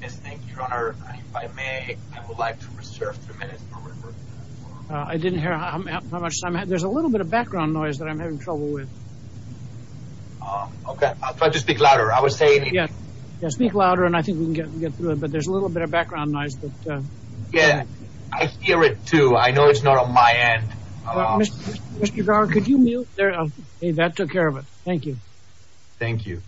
Yes, thank you, Your Honor. If I may, I would like to reserve three minutes for referral. I didn't hear how much time... There's a little bit of background noise that I'm having trouble with. Okay, I'll try to speak louder. I was saying... Yeah, speak louder and I think we can get through it, but there's a little bit of background noise that... Yeah, I hear it too. I know it's not on my end. Mr. Garg, could you mute there? Okay, that took care of it. Thank you. Thank you.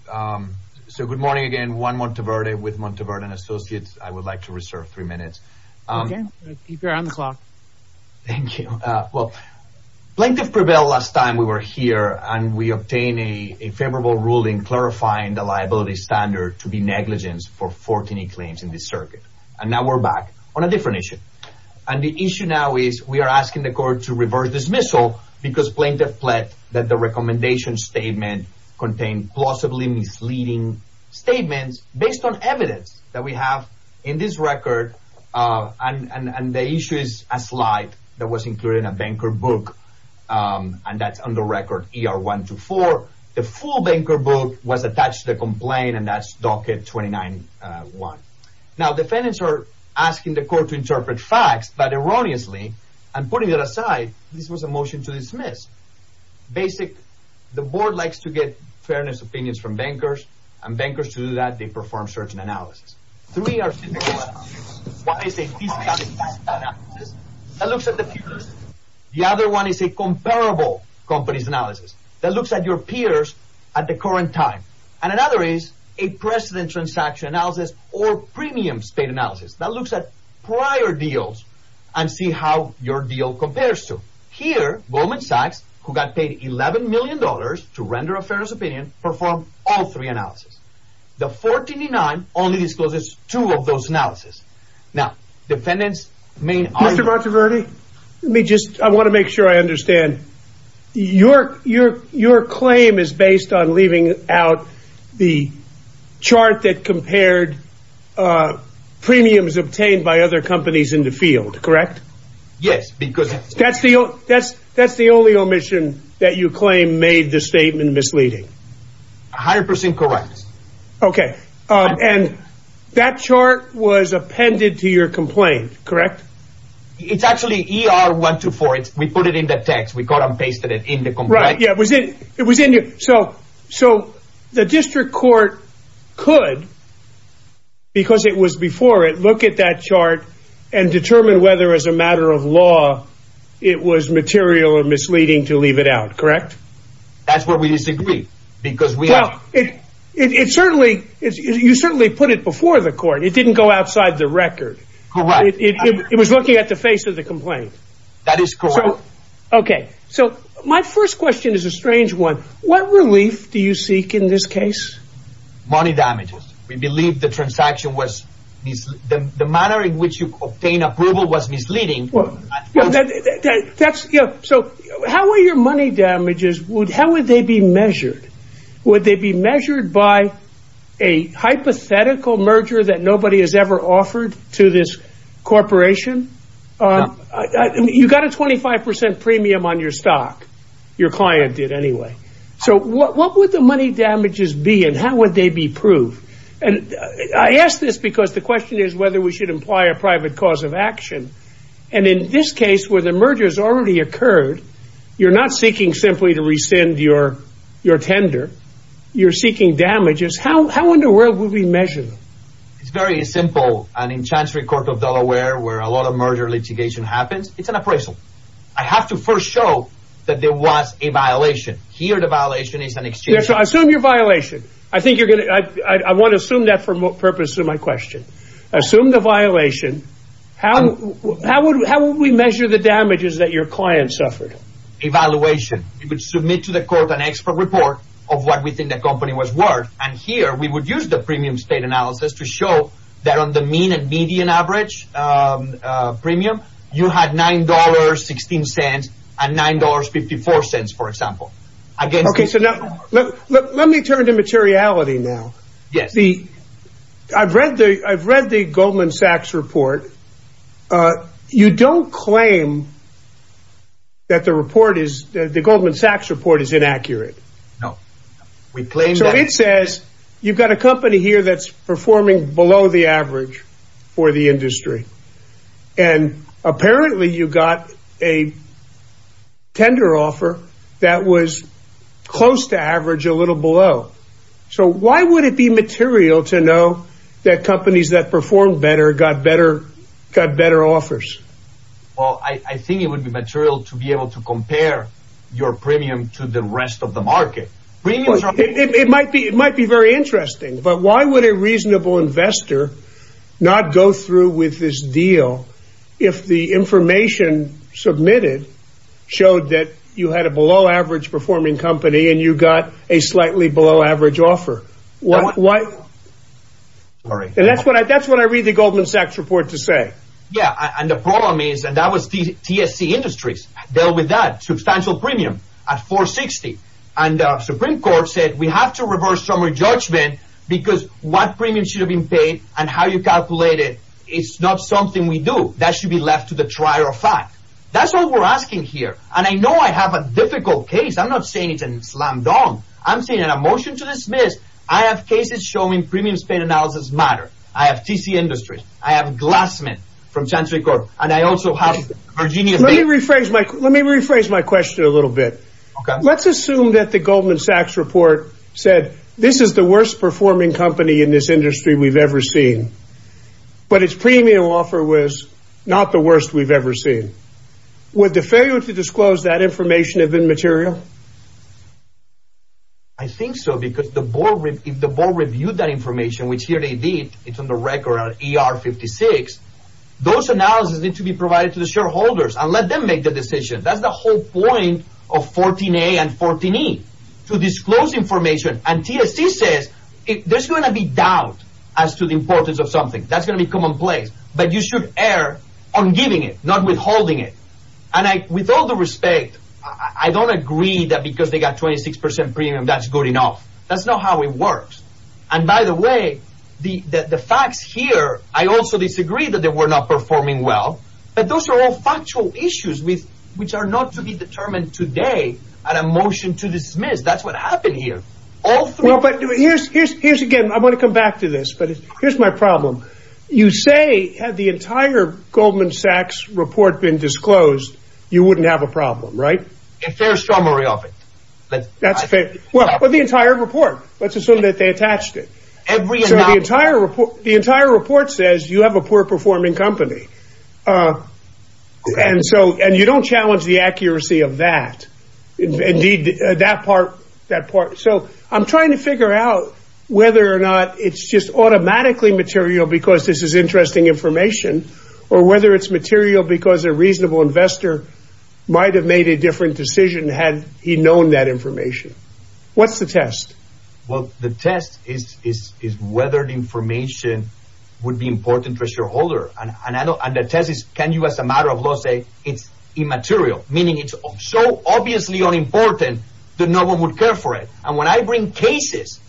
So, good morning again. Juan Monteverde with Monteverde & Associates. I would like to reserve three minutes. Okay, I'll keep you on the clock. Thank you. Well, plaintiff prevailed last time we were here and we obtained a favorable ruling clarifying the liability standard to be negligence for 14 claims in this circuit. And now we're back on a different issue. And the issue now is we are asking the court to reverse dismissal because plaintiff pled that the recommendation statement contained plausibly misleading statements based on evidence that we have in this record. And the issue is a slide that was included in a banker book and that's on the record ER 124. The full banker book was attached to the complaint and that's docket 29-1. Now, defendants are asking the court to interpret facts, but erroneously and putting it aside, this was a motion to dismiss. Basic, the board likes to get fairness opinions from bankers and bankers to do that, they perform search and analysis. Three are significant. One is a fiscal analysis that looks at the peers. The other one is a comparable companies analysis that looks at your peers at the current time. And another is a precedent transaction analysis or premium state analysis that looks at prior deals and see how your deal compares to. Here, Goldman Sachs, who got paid $11 million to render a fairness opinion, performed all three analysis. The 14-9 only discloses two of those analysis. Now, defendants mean. Let me just I want to make sure I understand your your your claim is based on leaving out the chart that compared premiums obtained by other companies in the field, correct? Yes, because that's the that's that's the only omission that you claim made the statement misleading. 100 percent correct. OK, and that chart was appended to your complaint, correct? It's actually E.R. one to four. We put it in the text. We got and pasted it in the right. Yeah, it was it it was in it. So so the district court could. Because it was before it, look at that chart and determine whether as a matter of law it was material or misleading to leave it out, correct? That's where we disagree, because we know it. It certainly is. You certainly put it before the court. It didn't go outside the record. It was looking at the face of the complaint. That is correct. OK, so my first question is a strange one. What relief do you seek in this case? Money damages. We believe the transaction was the manner in which you obtain approval was misleading. That's so how are your money damages? Would how would they be measured? Would they be measured by a hypothetical merger that nobody has ever offered to this corporation? You've got a 25 percent premium on your stock. Your client did anyway. So what would the money damages be and how would they be proved? And I ask this because the question is whether we should imply a private cause of action. And in this case, where the merger has already occurred, you're not seeking simply to rescind your your tender. You're seeking damages. How how in the world would we measure? It's very simple. And in Chantry Court of Delaware, where a lot of merger litigation happens, it's an appraisal. I have to first show that there was a violation here. The violation is an exchange. So I assume your violation. I think you're going to I want to assume that for purpose of my question. Assume the violation. How how would how would we measure the damages that your client suffered? Evaluation. You would submit to the court an expert report of what we think the company was worth. And here we would use the premium state analysis to show that on the mean and median average premium, you had nine dollars, 16 cents and nine dollars, 54 cents, for example. OK, so now let me turn to materiality now. Yes. I've read the I've read the Goldman Sachs report. You don't claim. That the report is the Goldman Sachs report is inaccurate. No, we claim. So it says you've got a company here that's performing below the average for the industry. And apparently you got a tender offer that was close to average, a little below. So why would it be material to know that companies that perform better got better, got better offers? Well, I think it would be material to be able to compare your premium to the rest of the market. It might be it might be very interesting. But why would a reasonable investor not go through with this deal? If the information submitted showed that you had a below average performing company and you got a slightly below average offer? All right. And that's what I that's what I read the Goldman Sachs report to say. Yeah. And the problem is that that was the TSC industries dealt with that substantial premium at 460. And the Supreme Court said we have to reverse summary judgment because what premium should have been paid and how you calculate it. It's not something we do. That should be left to the trier of fact. That's all we're asking here. And I know I have a difficult case. I'm not saying it's a slam dunk. I'm saying in a motion to dismiss. I have cases showing premium spent analysis matter. I have TSC industries. I have Glassman from Chantry Corp. And I also have Virginia. Let me rephrase my let me rephrase my question a little bit. Let's assume that the Goldman Sachs report said this is the worst performing company in this industry we've ever seen. But it's premium offer was not the worst we've ever seen. With the failure to disclose that information have been material. I think so, because the board in the board reviewed that information, which here they did. It's on the record ER 56. Those analysis need to be provided to the shareholders and let them make the decision. That's the whole point of 14A and 14E to disclose information. And TSC says there's going to be doubt as to the importance of something that's going to be commonplace. But you should err on giving it, not withholding it. And I with all the respect, I don't agree that because they got 26 percent premium, that's good enough. That's not how it works. And by the way, the facts here, I also disagree that they were not performing well. But those are all factual issues with which are not to be determined today at a motion to dismiss. That's what happened here. All three. But here's here's here's again. I want to come back to this. But here's my problem. You say had the entire Goldman Sachs report been disclosed, you wouldn't have a problem, right? But that's fair. Well, the entire report. Let's assume that they attached it. Every entire report, the entire report says you have a poor performing company. And so and you don't challenge the accuracy of that. Indeed, that part, that part. So I'm trying to figure out whether or not it's just automatically material because this is interesting information, or whether it's material because a reasonable investor might have made a different decision had he known that information. What's the test? Well, the test is, is, is whether the information would be important for shareholder. And I know the test is, can you, as a matter of law, say it's immaterial, meaning it's so obviously unimportant that no one would care for it. And when I bring cases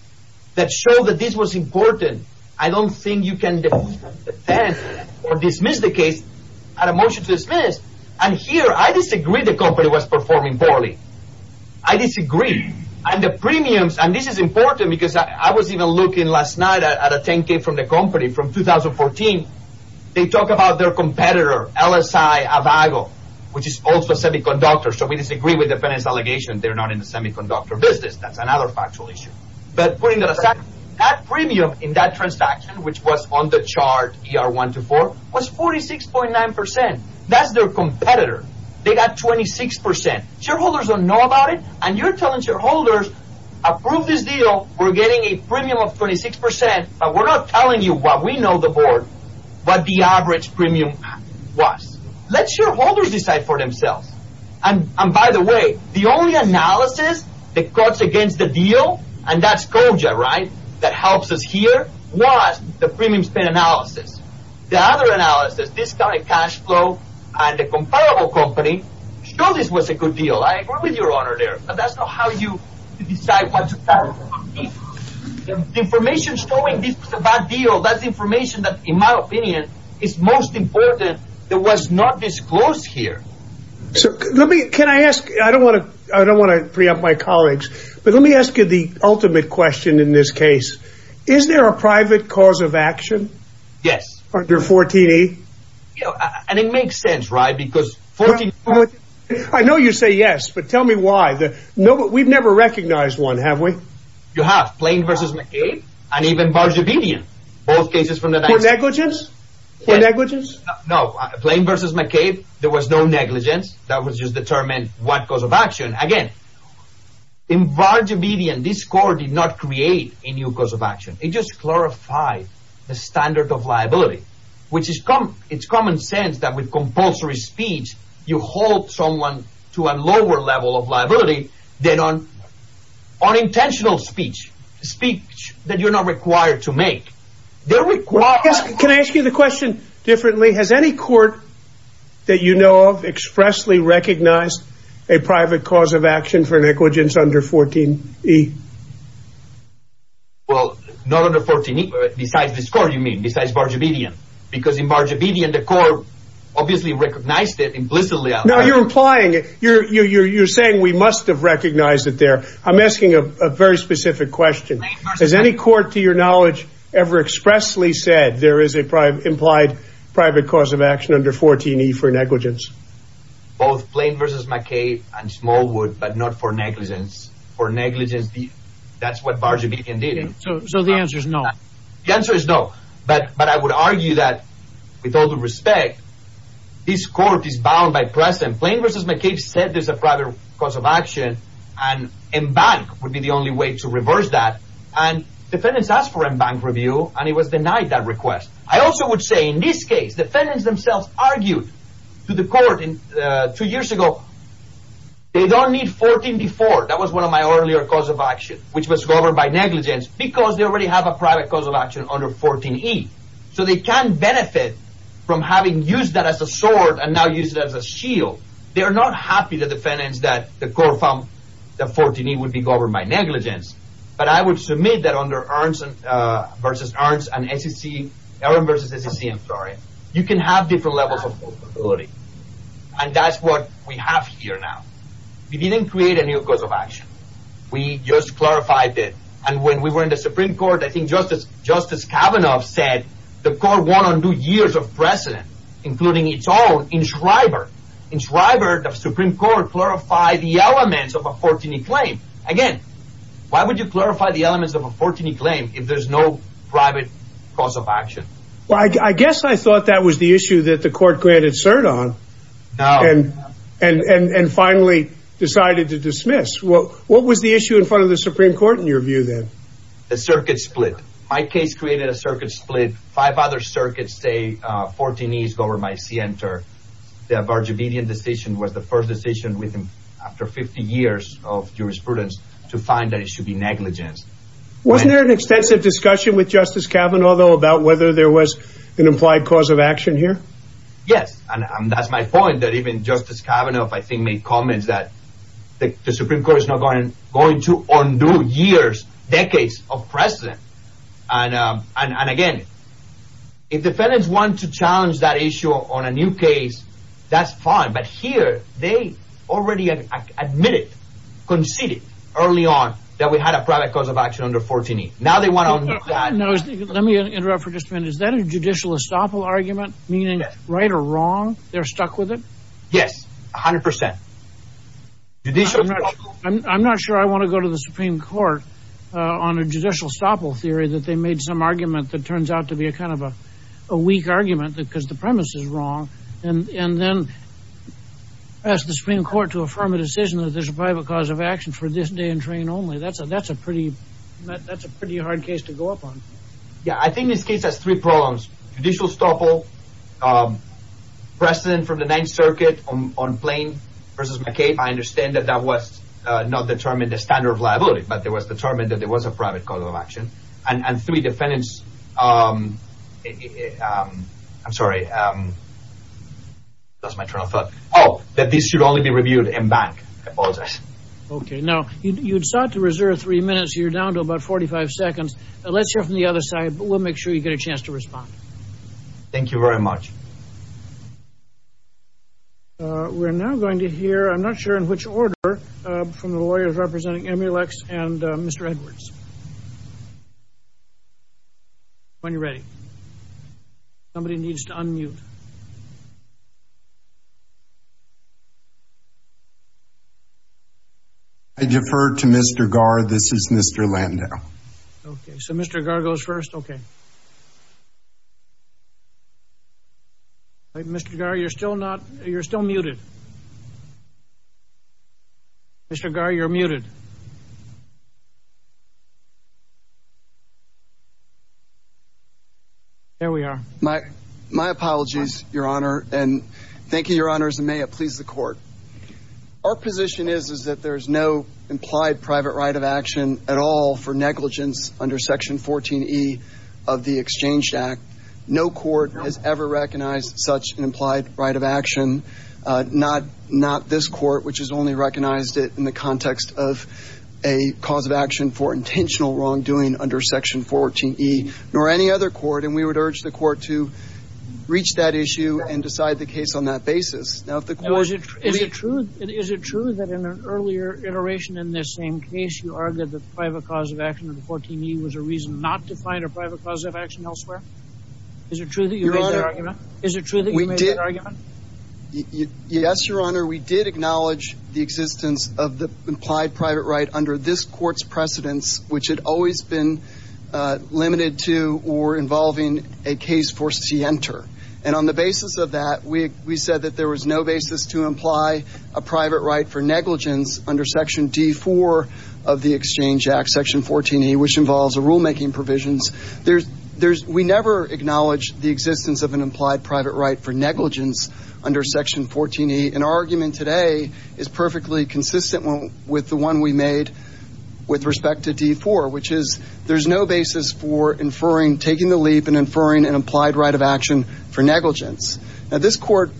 that show that this was important, I don't think you can defend or dismiss the case at a motion to dismiss. And here I disagree. The company was performing poorly. I disagree. And the premiums and this is important because I was even looking last night at a 10K from the company from 2014. They talk about their competitor, LSI Avago, which is also a semiconductor. So we disagree with the penance allegation. They're not in the semiconductor business. That's another factual issue. But putting that aside, that premium in that transaction, which was on the chart, ER 124, was 46.9%. That's their competitor. They got 26%. Shareholders don't know about it. And you're telling shareholders, approve this deal. We're getting a premium of 26%. But we're not telling you what we know the board, what the average premium was. Let shareholders decide for themselves. And by the way, the only analysis that cuts against the deal, and that's COJA, right, that helps us here, was the premium spend analysis. The other analysis, discounted cash flow, and the comparable company, showed this was a good deal. I agree with your honor there, but that's not how you decide what to cut. The information showing this was a bad deal, that's information that, in my opinion, is most important, that was not disclosed here. So let me, can I ask, I don't want to preempt my colleagues, but let me ask you the ultimate question in this case. Is there a private cause of action? Yes. Under 14E? And it makes sense, right, because 14E... I know you say yes, but tell me why. We've never recognized one, have we? You have. Plain versus McCabe, and even Bargebedian. Both cases from the... For negligence? For negligence? No. Plain versus McCabe, there was no negligence. That was just determined what cause of action. Again, in Bargebedian, this score did not create a new cause of action. It just clarified the standard of liability, which is common sense that with compulsory speech you hold someone to a lower level of liability than on intentional speech, speech that you're not required to make. Can I ask you the question differently? Has any court that you know of expressly recognized a private cause of action for negligence under 14E? Well, not under 14E. Besides this score, you mean. Besides Bargebedian. Because in Bargebedian, the court obviously recognized it implicitly. No, you're implying it. You're saying we must have recognized it there. I'm asking a very specific question. Has any court, to your knowledge, ever expressly said there is an implied private cause of action under 14E for negligence? Both Plain versus McCabe and Smallwood, but not for negligence. For negligence, that's what Bargebedian did. So the answer is no. The answer is no. But I would argue that, with all due respect, this court is bound by precedent. Plain versus McCabe said there's a private cause of action, and Embank would be the only way to reverse that. And defendants asked for Embank review, and it was denied that request. I also would say, in this case, defendants themselves argued to the court two years ago they don't need 14B4. That was one of my earlier cause of action, which was governed by negligence, because they already have a private cause of action under 14E. So they can benefit from having used that as a sword and now used it as a shield. They are not happy, the defendants, that the court found that 14E would be governed by negligence. But I would submit that, under Aronson versus Aronson, and Aronson versus Aronson, you can have different levels of possibility. And that's what we have here now. We didn't create a new cause of action. We just clarified it. And when we were in the Supreme Court, I think Justice Kavanaugh said the court won't undo years of precedent, including its own, in Shriver. In Shriver, the Supreme Court clarified the elements of a 14E claim. Again, why would you clarify the elements of a 14E claim if there's no private cause of action? Well, I guess I thought that was the issue that the court granted cert on. No. And finally decided to dismiss. What was the issue in front of the Supreme Court, in your view, then? The circuit split. My case created a circuit split. Five other circuits say 14E is governed by scienter. The Bargevedian decision was the first decision, after 50 years of jurisprudence, to find that it should be negligent. Wasn't there an extensive discussion with Justice Kavanaugh, though, about whether there was an implied cause of action here? Yes. And that's my point, that even Justice Kavanaugh, I think, made comments that the Supreme Court is not going to undo years, decades of precedent. And again, if defendants want to challenge that issue on a new case, that's fine. But here, they already admitted, conceded, early on, that we had a private cause of action under 14E. Now they want to undo that. Let me interrupt for just a minute. Is that a judicial estoppel argument, meaning right or wrong? They're stuck with it? Yes, 100%. I'm not sure I want to go to the Supreme Court on a judicial estoppel theory that they made some argument that turns out to be a kind of a weak argument because the premise is wrong. And then ask the Supreme Court to affirm a decision that there's a private cause of action for this day and terrain only. That's a pretty hard case to go up on. Yeah, I think this case has three problems. Judicial estoppel, precedent for the Ninth Circuit on Plain v. McCabe. I understand that that was not determined a standard of liability, but it was determined that there was a private cause of action. And three defendants. I'm sorry. Oh, that this should only be reviewed in bank. I apologize. Okay. Now, you sought to reserve three minutes. You're down to about 45 seconds. Let's hear from the other side, but we'll make sure you get a chance to respond. Thank you very much. We're now going to hear, I'm not sure in which order, from the lawyers representing Emilex and Mr. Edwards. When you're ready. Somebody needs to unmute. I defer to Mr. Garr. This is Mr. Landau. Okay, so Mr. Garr goes first. Okay. Mr. Garr, you're still not, you're still muted. Mr. Garr, you're muted. There we are. My apologies, Your Honor, and thank you, Your Honors, and may it please the court. Our position is that there is no implied private right of action at all for negligence under Section 14E of the Exchange Act. No court has ever recognized such an implied right of action. Not this court, which has only recognized it in the context of a cause of action for intentional wrongdoing under Section 14E, nor any other court, and we would urge the court to reach that issue and decide the case on that basis. Is it true that in an earlier iteration in this same case, you argued that the private cause of action under 14E was a reason not to find a private cause of action elsewhere? Is it true that you made that argument? Yes, Your Honor, we did acknowledge the existence of the implied private right under this court's precedence, which had always been limited to or involving a case for scienter, and on the basis of that, we said that there was no basis to imply a private right for negligence under Section D4 of the Exchange Act, Section 14E, which involves rulemaking provisions. We never acknowledged the existence of an implied private right for negligence under Section 14E, and our argument today is perfectly consistent with the one we made with respect to D4, which is there's no basis for taking the leap and inferring an implied right of action for negligence. Now, this court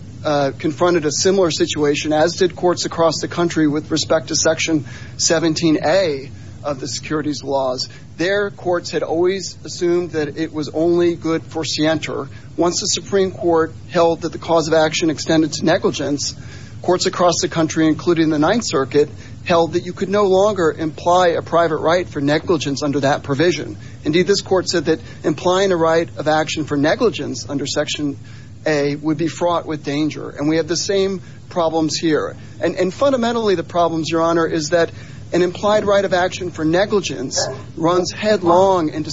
confronted a similar situation, as did courts across the country, with respect to Section 17A of the securities laws. There, courts had always assumed that it was only good for scienter. Once the Supreme Court held that the cause of action extended to negligence, courts across the country, including the Ninth Circuit, held that you could no longer imply a private right for negligence under that provision. Indeed, this court said that implying a right of action for negligence under Section A would be fraught with danger, and we have the same problems here, and fundamentally the problems, Your Honor, is that an implied right of action for negligence runs headlong into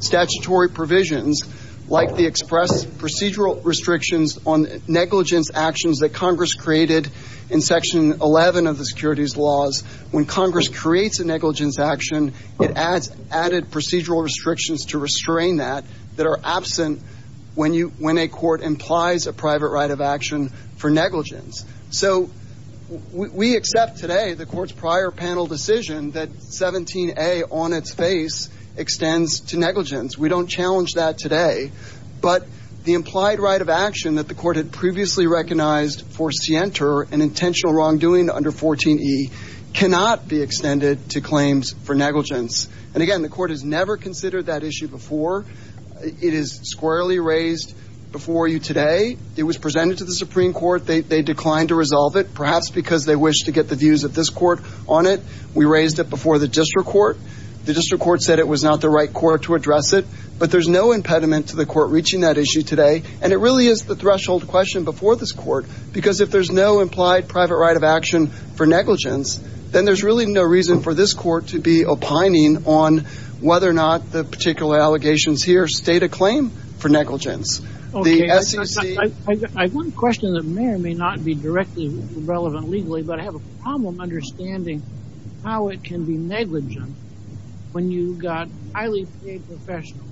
statutory provisions, like the express procedural restrictions on negligence actions that Congress created in Section 11 of the securities laws. When Congress creates a negligence action, it adds added procedural restrictions to restrain that that are absent when a court implies a private right of action for negligence. So we accept today the court's prior panel decision that 17A on its face extends to negligence. We don't challenge that today, but the implied right of action that the court had previously recognized for scienter, an intentional wrongdoing under 14E, cannot be extended to claims for negligence. And again, the court has never considered that issue before. It is squarely raised before you today. It was presented to the Supreme Court. They declined to resolve it, perhaps because they wished to get the views of this court on it. We raised it before the district court. The district court said it was not the right court to address it. But there's no impediment to the court reaching that issue today, and it really is the threshold question before this court, because if there's no implied private right of action for negligence, then there's really no reason for this court to be opining on whether or not the particular allegations here state a claim for negligence. Okay. I have one question that may or may not be directly relevant legally, but I have a problem understanding how it can be negligent when you've got highly paid professionals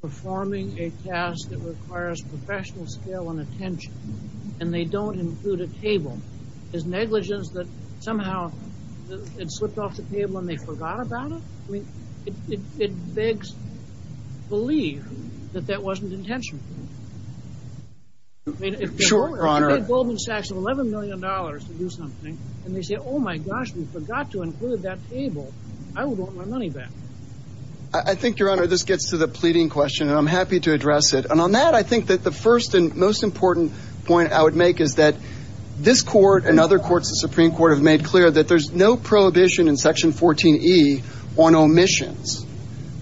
performing a task that requires professional skill and attention, and they don't include a table. Is negligence that somehow it slipped off the table and they forgot about it? I mean, it begs belief that that wasn't intentional. Sure, Your Honor. They pay Goldman Sachs $11 million to do something, and they say, oh, my gosh, we forgot to include that table. I would want my money back. I think, Your Honor, this gets to the pleading question, and I'm happy to address it. And on that, I think that the first and most important point I would make is that this court and other courts, the Supreme Court, have made clear that there's no prohibition in Section 14E on omissions,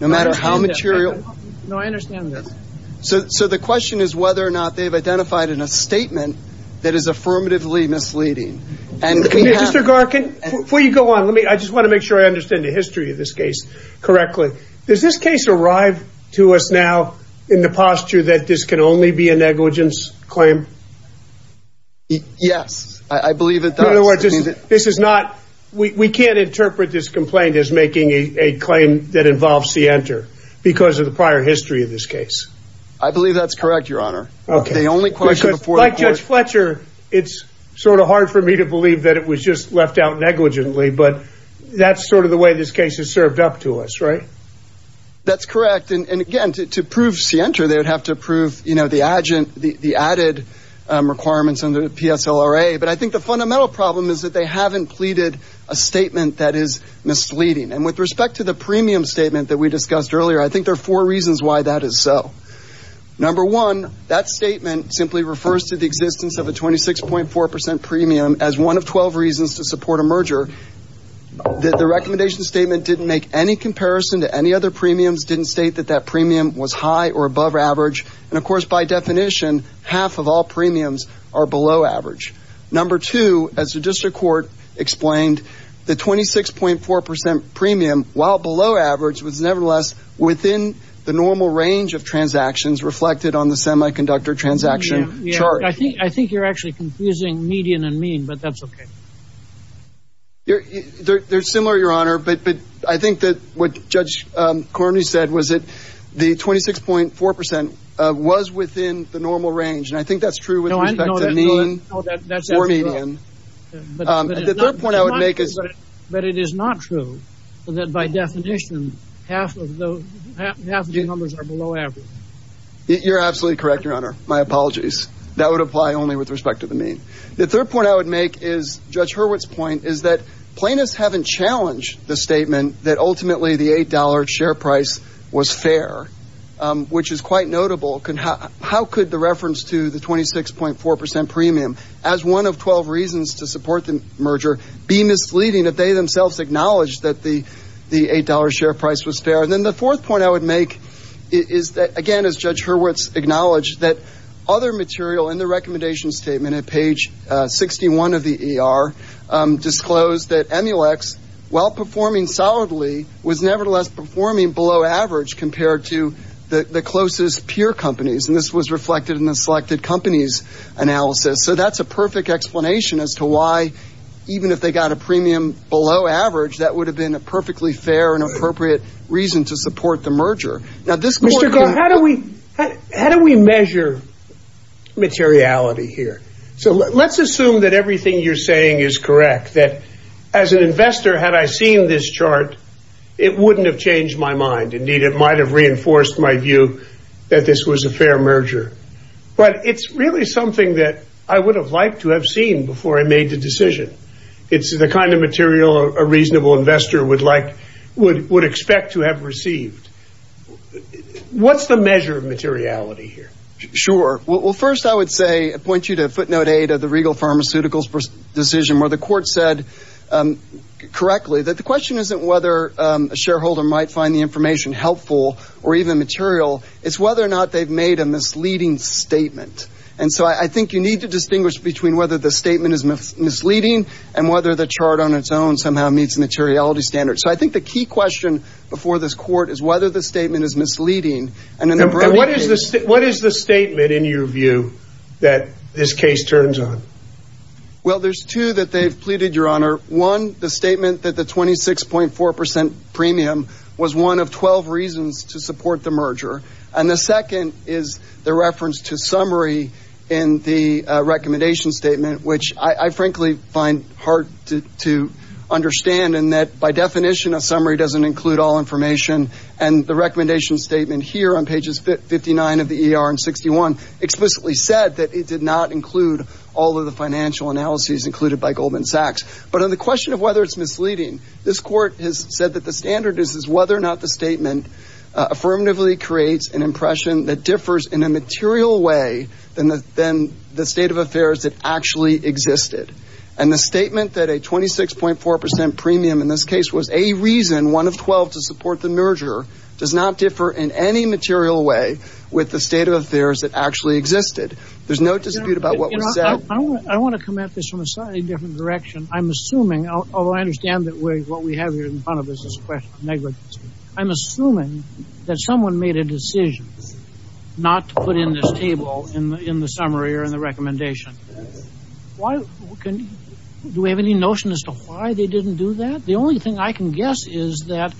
no matter how material. No, I understand this. So the question is whether or not they've identified in a statement that is affirmatively misleading. Mr. Garkin, before you go on, I just want to make sure I understand the history of this case correctly. Does this case arrive to us now in the posture that this can only be a negligence claim? Yes, I believe it does. We can't interpret this complaint as making a claim that involves Sienta because of the prior history of this case. I believe that's correct, Your Honor. Like Judge Fletcher, it's sort of hard for me to believe that it was just left out negligently, but that's sort of the way this case is served up to us, right? That's correct. And again, to prove Sienta, they would have to prove the added requirements under the PSLRA. But I think the fundamental problem is that they haven't pleaded a statement that is misleading. And with respect to the premium statement that we discussed earlier, I think there are four reasons why that is so. Number one, that statement simply refers to the existence of a 26.4% premium as one of 12 reasons to support a merger. The recommendation statement didn't make any comparison to any other premiums, didn't state that that premium was high or above average. And, of course, by definition, half of all premiums are below average. Number two, as the district court explained, the 26.4% premium, while below average, was nevertheless within the normal range of transactions reflected on the semiconductor transaction chart. I think you're actually confusing median and mean, but that's okay. They're similar, Your Honor. But I think that what Judge Cormier said was that the 26.4% was within the normal range. And I think that's true with respect to the mean or median. But it is not true that by definition half of the numbers are below average. You're absolutely correct, Your Honor. My apologies. That would apply only with respect to the mean. The third point I would make is Judge Hurwitz's point is that plaintiffs haven't challenged the statement that ultimately the $8 share price was fair, which is quite notable. How could the reference to the 26.4% premium as one of 12 reasons to support the merger be misleading if they themselves acknowledged that the $8 share price was fair? And then the fourth point I would make is that, again, as Judge Hurwitz acknowledged, that other material in the recommendation statement at page 61 of the ER disclosed that Emulex, while performing solidly, was nevertheless performing below average compared to the closest peer companies. And this was reflected in the selected companies analysis. So that's a perfect explanation as to why, even if they got a premium below average, that would have been a perfectly fair and appropriate reason to support the merger. Now, this court could have... Mr. Garrett, how do we measure materiality here? So let's assume that everything you're saying is correct, that as an investor, had I seen this chart, it wouldn't have changed my mind. Indeed, it might have reinforced my view that this was a fair merger. But it's really something that I would have liked to have seen before I made the decision. It's the kind of material a reasonable investor would expect to have received. What's the measure of materiality here? Sure. Well, first I would point you to footnote 8 of the Regal Pharmaceuticals decision, where the court said correctly that the question isn't whether a shareholder might find the information helpful or even material. It's whether or not they've made a misleading statement. And so I think you need to distinguish between whether the statement is misleading and whether the chart on its own somehow meets materiality standards. So I think the key question before this court is whether the statement is misleading. And what is the statement, in your view, that this case turns on? Well, there's two that they've pleaded, Your Honor. One, the statement that the 26.4% premium was one of 12 reasons to support the merger. And the second is the reference to summary in the recommendation statement, which I frankly find hard to understand in that by definition a summary doesn't include all information. And the recommendation statement here on pages 59 of the ER and 61 explicitly said that it did not include all of the financial analyses included by Goldman Sachs. But on the question of whether it's misleading, this court has said that the standard is whether or not the statement affirmatively creates an impression that differs in a material way than the state of affairs that actually existed. And the statement that a 26.4% premium in this case was a reason one of 12 to support the merger does not differ in any material way with the state of affairs that actually existed. There's no dispute about what was said. I want to come at this from a slightly different direction. I'm assuming, although I understand that what we have here in front of us is negligence, I'm assuming that someone made a decision not to put in this table in the summary or in the recommendation. Do we have any notion as to why they didn't do that? The only thing I can guess is that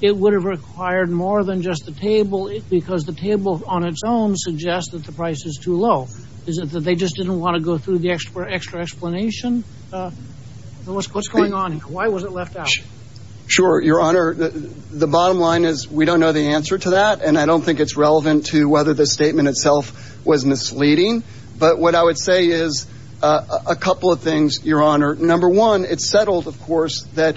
it would have required more than just the table because the table on its own suggests that the price is too low. Is it that they just didn't want to go through the extra explanation? What's going on here? Why was it left out? Sure, Your Honor. The bottom line is we don't know the answer to that, and I don't think it's relevant to whether the statement itself was misleading. But what I would say is a couple of things, Your Honor. Number one, it's settled, of course, that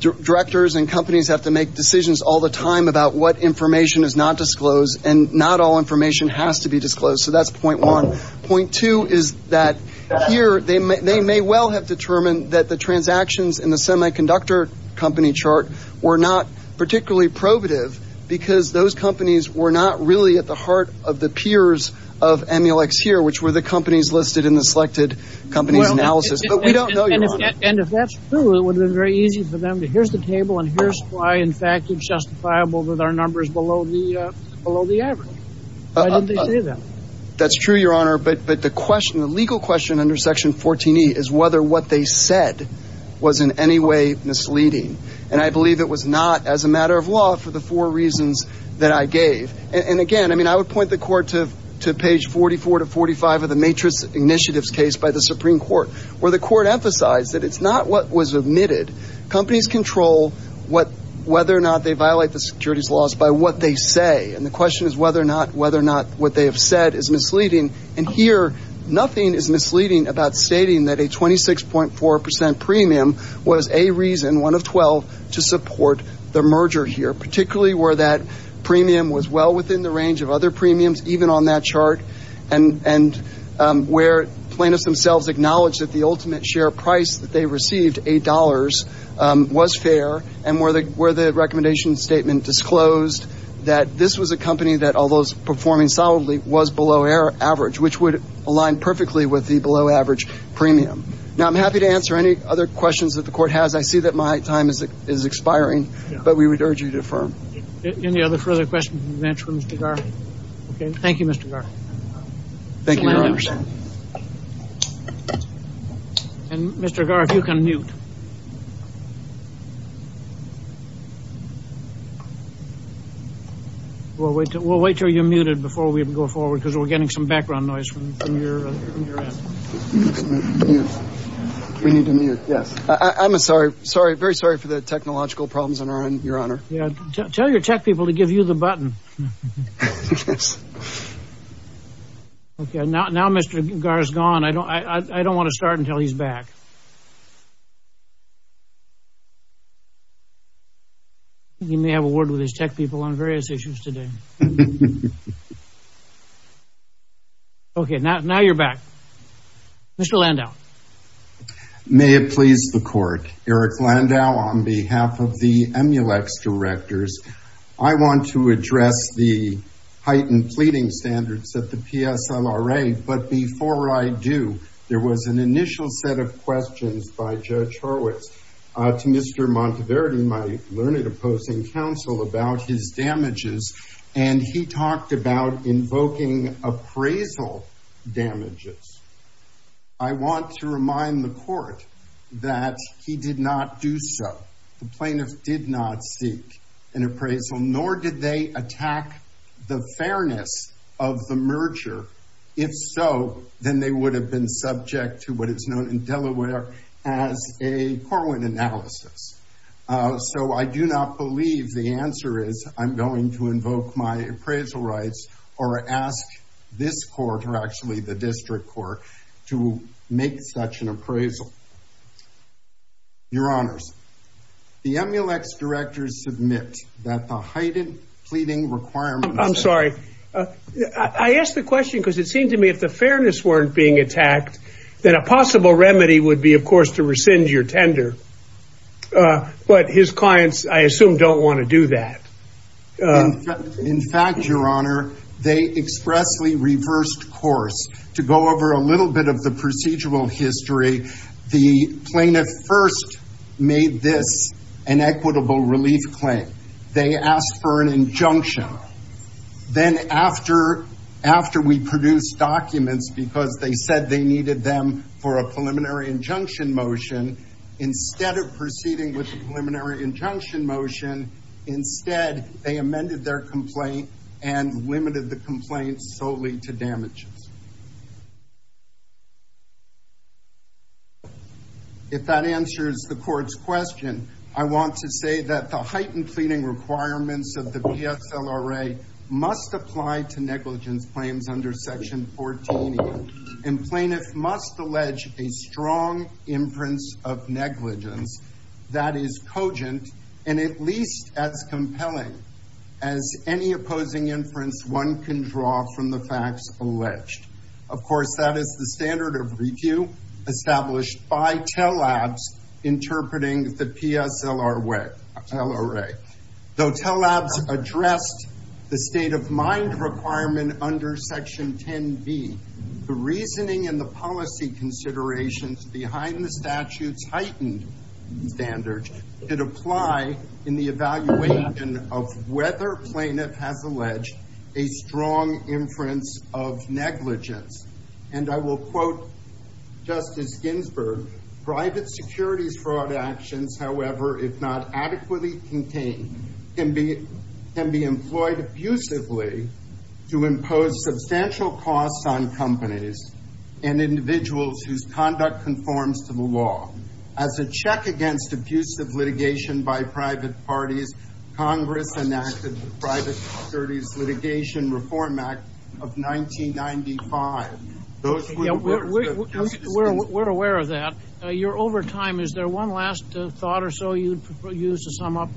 directors and companies have to make decisions all the time about what information is not disclosed, and not all information has to be disclosed. So that's point one. Point two is that here they may well have determined that the transactions in the semiconductor company chart were not particularly probative because those companies were not really at the heart of the peers of Emulex here, which were the companies listed in the selected companies analysis. But we don't know, Your Honor. And if that's true, it would have been very easy for them to, here's the table and here's why, in fact, it's justifiable that our number is below the average. Why didn't they say that? That's true, Your Honor, but the question, the legal question under Section 14E is whether what they said was in any way misleading. And I believe it was not as a matter of law for the four reasons that I gave. And again, I mean, I would point the Court to page 44 to 45 of the Matrix Initiatives case by the Supreme Court where the Court emphasized that it's not what was admitted. Companies control whether or not they violate the securities laws by what they say. And the question is whether or not what they have said is misleading. And here, nothing is misleading about stating that a 26.4% premium was a reason, one of 12, to support the merger here, particularly where that premium was well within the range of other premiums, even on that chart, and where plaintiffs themselves acknowledged that the ultimate share price that they received, $8, was fair, and where the recommendation statement disclosed that this was a company that, although performing solidly, was below average, which would align perfectly with the below average premium. Now, I'm happy to answer any other questions that the Court has. I see that my time is expiring, but we would urge you to affirm. Any other further questions from the bench for Mr. Garr? Okay, thank you, Mr. Garr. Thank you, Your Honor. And, Mr. Garr, if you can mute. We'll wait until you're muted before we go forward, because we're getting some background noise from your end. We need to mute, yes. I'm sorry, very sorry for the technological problems on our end, Your Honor. Tell your tech people to give you the button. Yes. Okay, now Mr. Garr is gone. I don't want to start until he's back. He may have a word with his tech people on various issues today. Okay, now you're back. Mr. Landau. May it please the Court. Eric Landau on behalf of the Emulex Directors. I want to address the heightened pleading standards at the PSLRA, but before I do, there was an initial set of questions by Judge Horowitz to Mr. Monteverdi, my learned opposing counsel, about his damages, and he talked about invoking appraisal damages. I want to remind the Court that he did not do so. The plaintiff did not seek an appraisal, nor did they attack the fairness of the merger. If so, then they would have been subject to what is known in Delaware as a Corwin analysis. So I do not believe the answer is I'm going to invoke my appraisal rights or ask this Court, or actually the District Court, to make such an appraisal. Your Honors, the Emulex Directors submit that the heightened pleading requirements... I ask the question because it seemed to me if the fairness weren't being attacked, then a possible remedy would be, of course, to rescind your tender. But his clients, I assume, don't want to do that. In fact, Your Honor, they expressly reversed course. To go over a little bit of the procedural history, the plaintiff first made this an equitable relief claim. They asked for an injunction. Then after we produced documents because they said they needed them for a preliminary injunction motion, instead of proceeding with the preliminary injunction motion, instead they amended their complaint and limited the complaint solely to damages. If that answers the Court's question, I want to say that the heightened pleading requirements of the PSLRA must apply to negligence claims under Section 14. And plaintiffs must allege a strong inference of negligence that is cogent and at least as compelling as any opposing inference one can draw from the facts alleged. Of course, that is the standard of review established by TELL Labs interpreting the PSLRA. Though TELL Labs addressed the state-of-mind requirement under Section 10b, the reasoning and the policy considerations behind the statute's heightened standards did apply in the evaluation of whether plaintiff has alleged a strong inference of negligence. And I will quote Justice Ginsburg, We're aware of that. You're over time. Is there one last thought or so you'd use to sum up?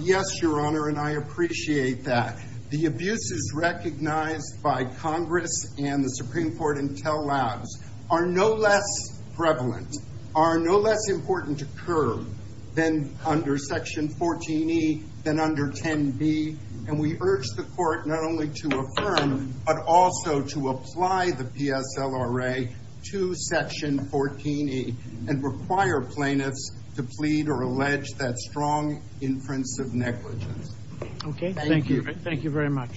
Yes, Your Honor, and I appreciate that. The abuses recognized by Congress and the Supreme Court and TELL Labs are no less prevalent, are no less important to curb than under Section 14e, than under 10b. And we urge the Court not only to affirm, but also to apply the PSLRA to Section 14e and require plaintiffs to plead or allege that strong inference of negligence. Okay, thank you. Thank you very much.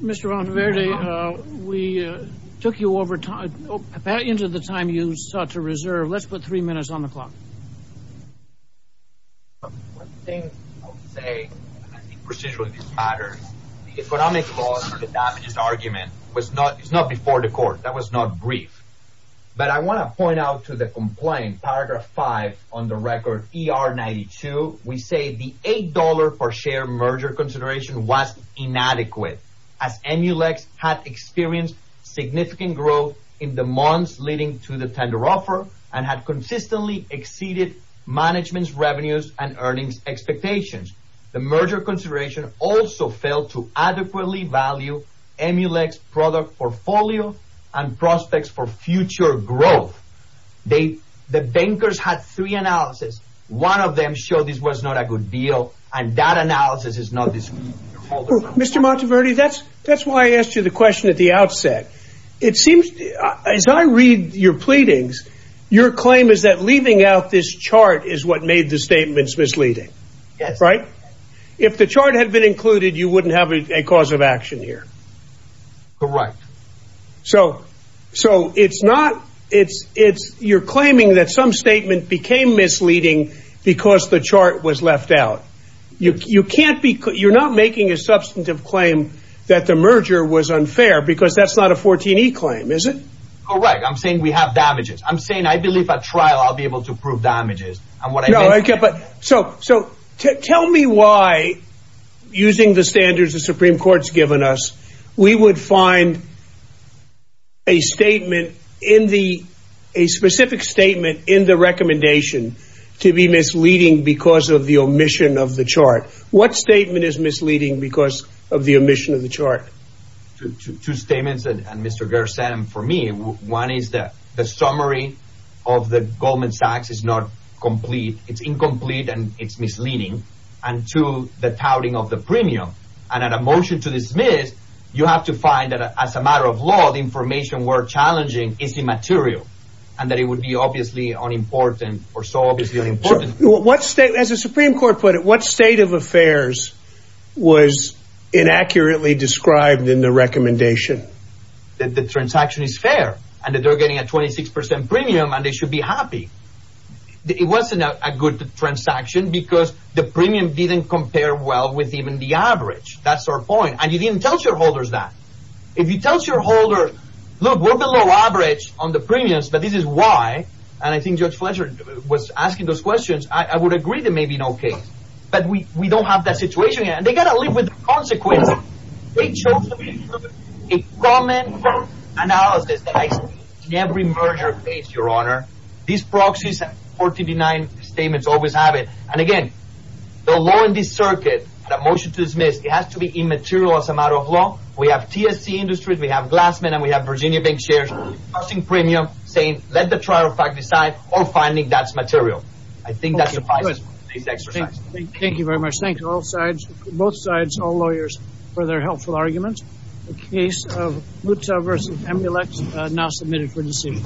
Mr. Valdiverde, we took you over time. About the end of the time you sought to reserve, let's put three minutes on the clock. One thing I would say, and I think procedurally this matters, the economic loss or the damages argument was not before the Court. That was not brief. But I want to point out to the complaint, Paragraph 5 on the record, ER 92. We say the $8 per share merger consideration was inadequate as Emulex had experienced significant growth in the months leading to the tender offer and had consistently exceeded management's revenues and earnings expectations. The merger consideration also failed to adequately value Emulex's product portfolio and prospects for future growth. The bankers had three analyses. One of them showed this was not a good deal, and that analysis is not discreet. Mr. Valdiverde, that's why I asked you the question at the outset. As I read your pleadings, your claim is that leaving out this chart is what made the statements misleading. Yes. Right? If the chart had been included, you wouldn't have a cause of action here. Correct. So you're claiming that some statement became misleading because the chart was left out. You're not making a substantive claim that the merger was unfair because that's not a 14E claim, is it? Correct. I'm saying we have damages. I'm saying I believe at trial I'll be able to prove damages. So tell me why, using the standards the Supreme Court's given us, we would find a specific statement in the recommendation to be misleading because of the omission of the chart. What statement is misleading because of the omission of the chart? Two statements that Mr. Gersen and for me. One is that the summary of the Goldman Sachs is not complete. It's incomplete and it's misleading. And two, the touting of the premium. And at a motion to dismiss, you have to find that as a matter of law, the information we're challenging is immaterial and that it would be obviously unimportant or so obviously unimportant. As the Supreme Court put it, what state of affairs was inaccurately described in the recommendation? That the transaction is fair and that they're getting a 26% premium and they should be happy. It wasn't a good transaction because the premium didn't compare well with even the average. That's our point. And you didn't tell shareholders that. If you tell shareholders, look, we're below average on the premiums, but this is why. And I think Judge Fletcher was asking those questions. I would agree there may be no case. But we don't have that situation yet. And they've got to live with the consequences. They chose a common analysis that I see in every merger case, Your Honor. These proxies have 49 statements, always have it. And again, the law in this circuit at a motion to dismiss, it has to be immaterial as a matter of law. We have TSC Industries. We have Glassman. And we have Virginia Bank Shares. Costing premium, saying let the trial fact decide, or finding that's material. I think that suffices for this exercise. Thank you very much. Thank you to all sides, both sides, all lawyers, for their helpful arguments. The case of Butzow v. Amulek is now submitted for decision.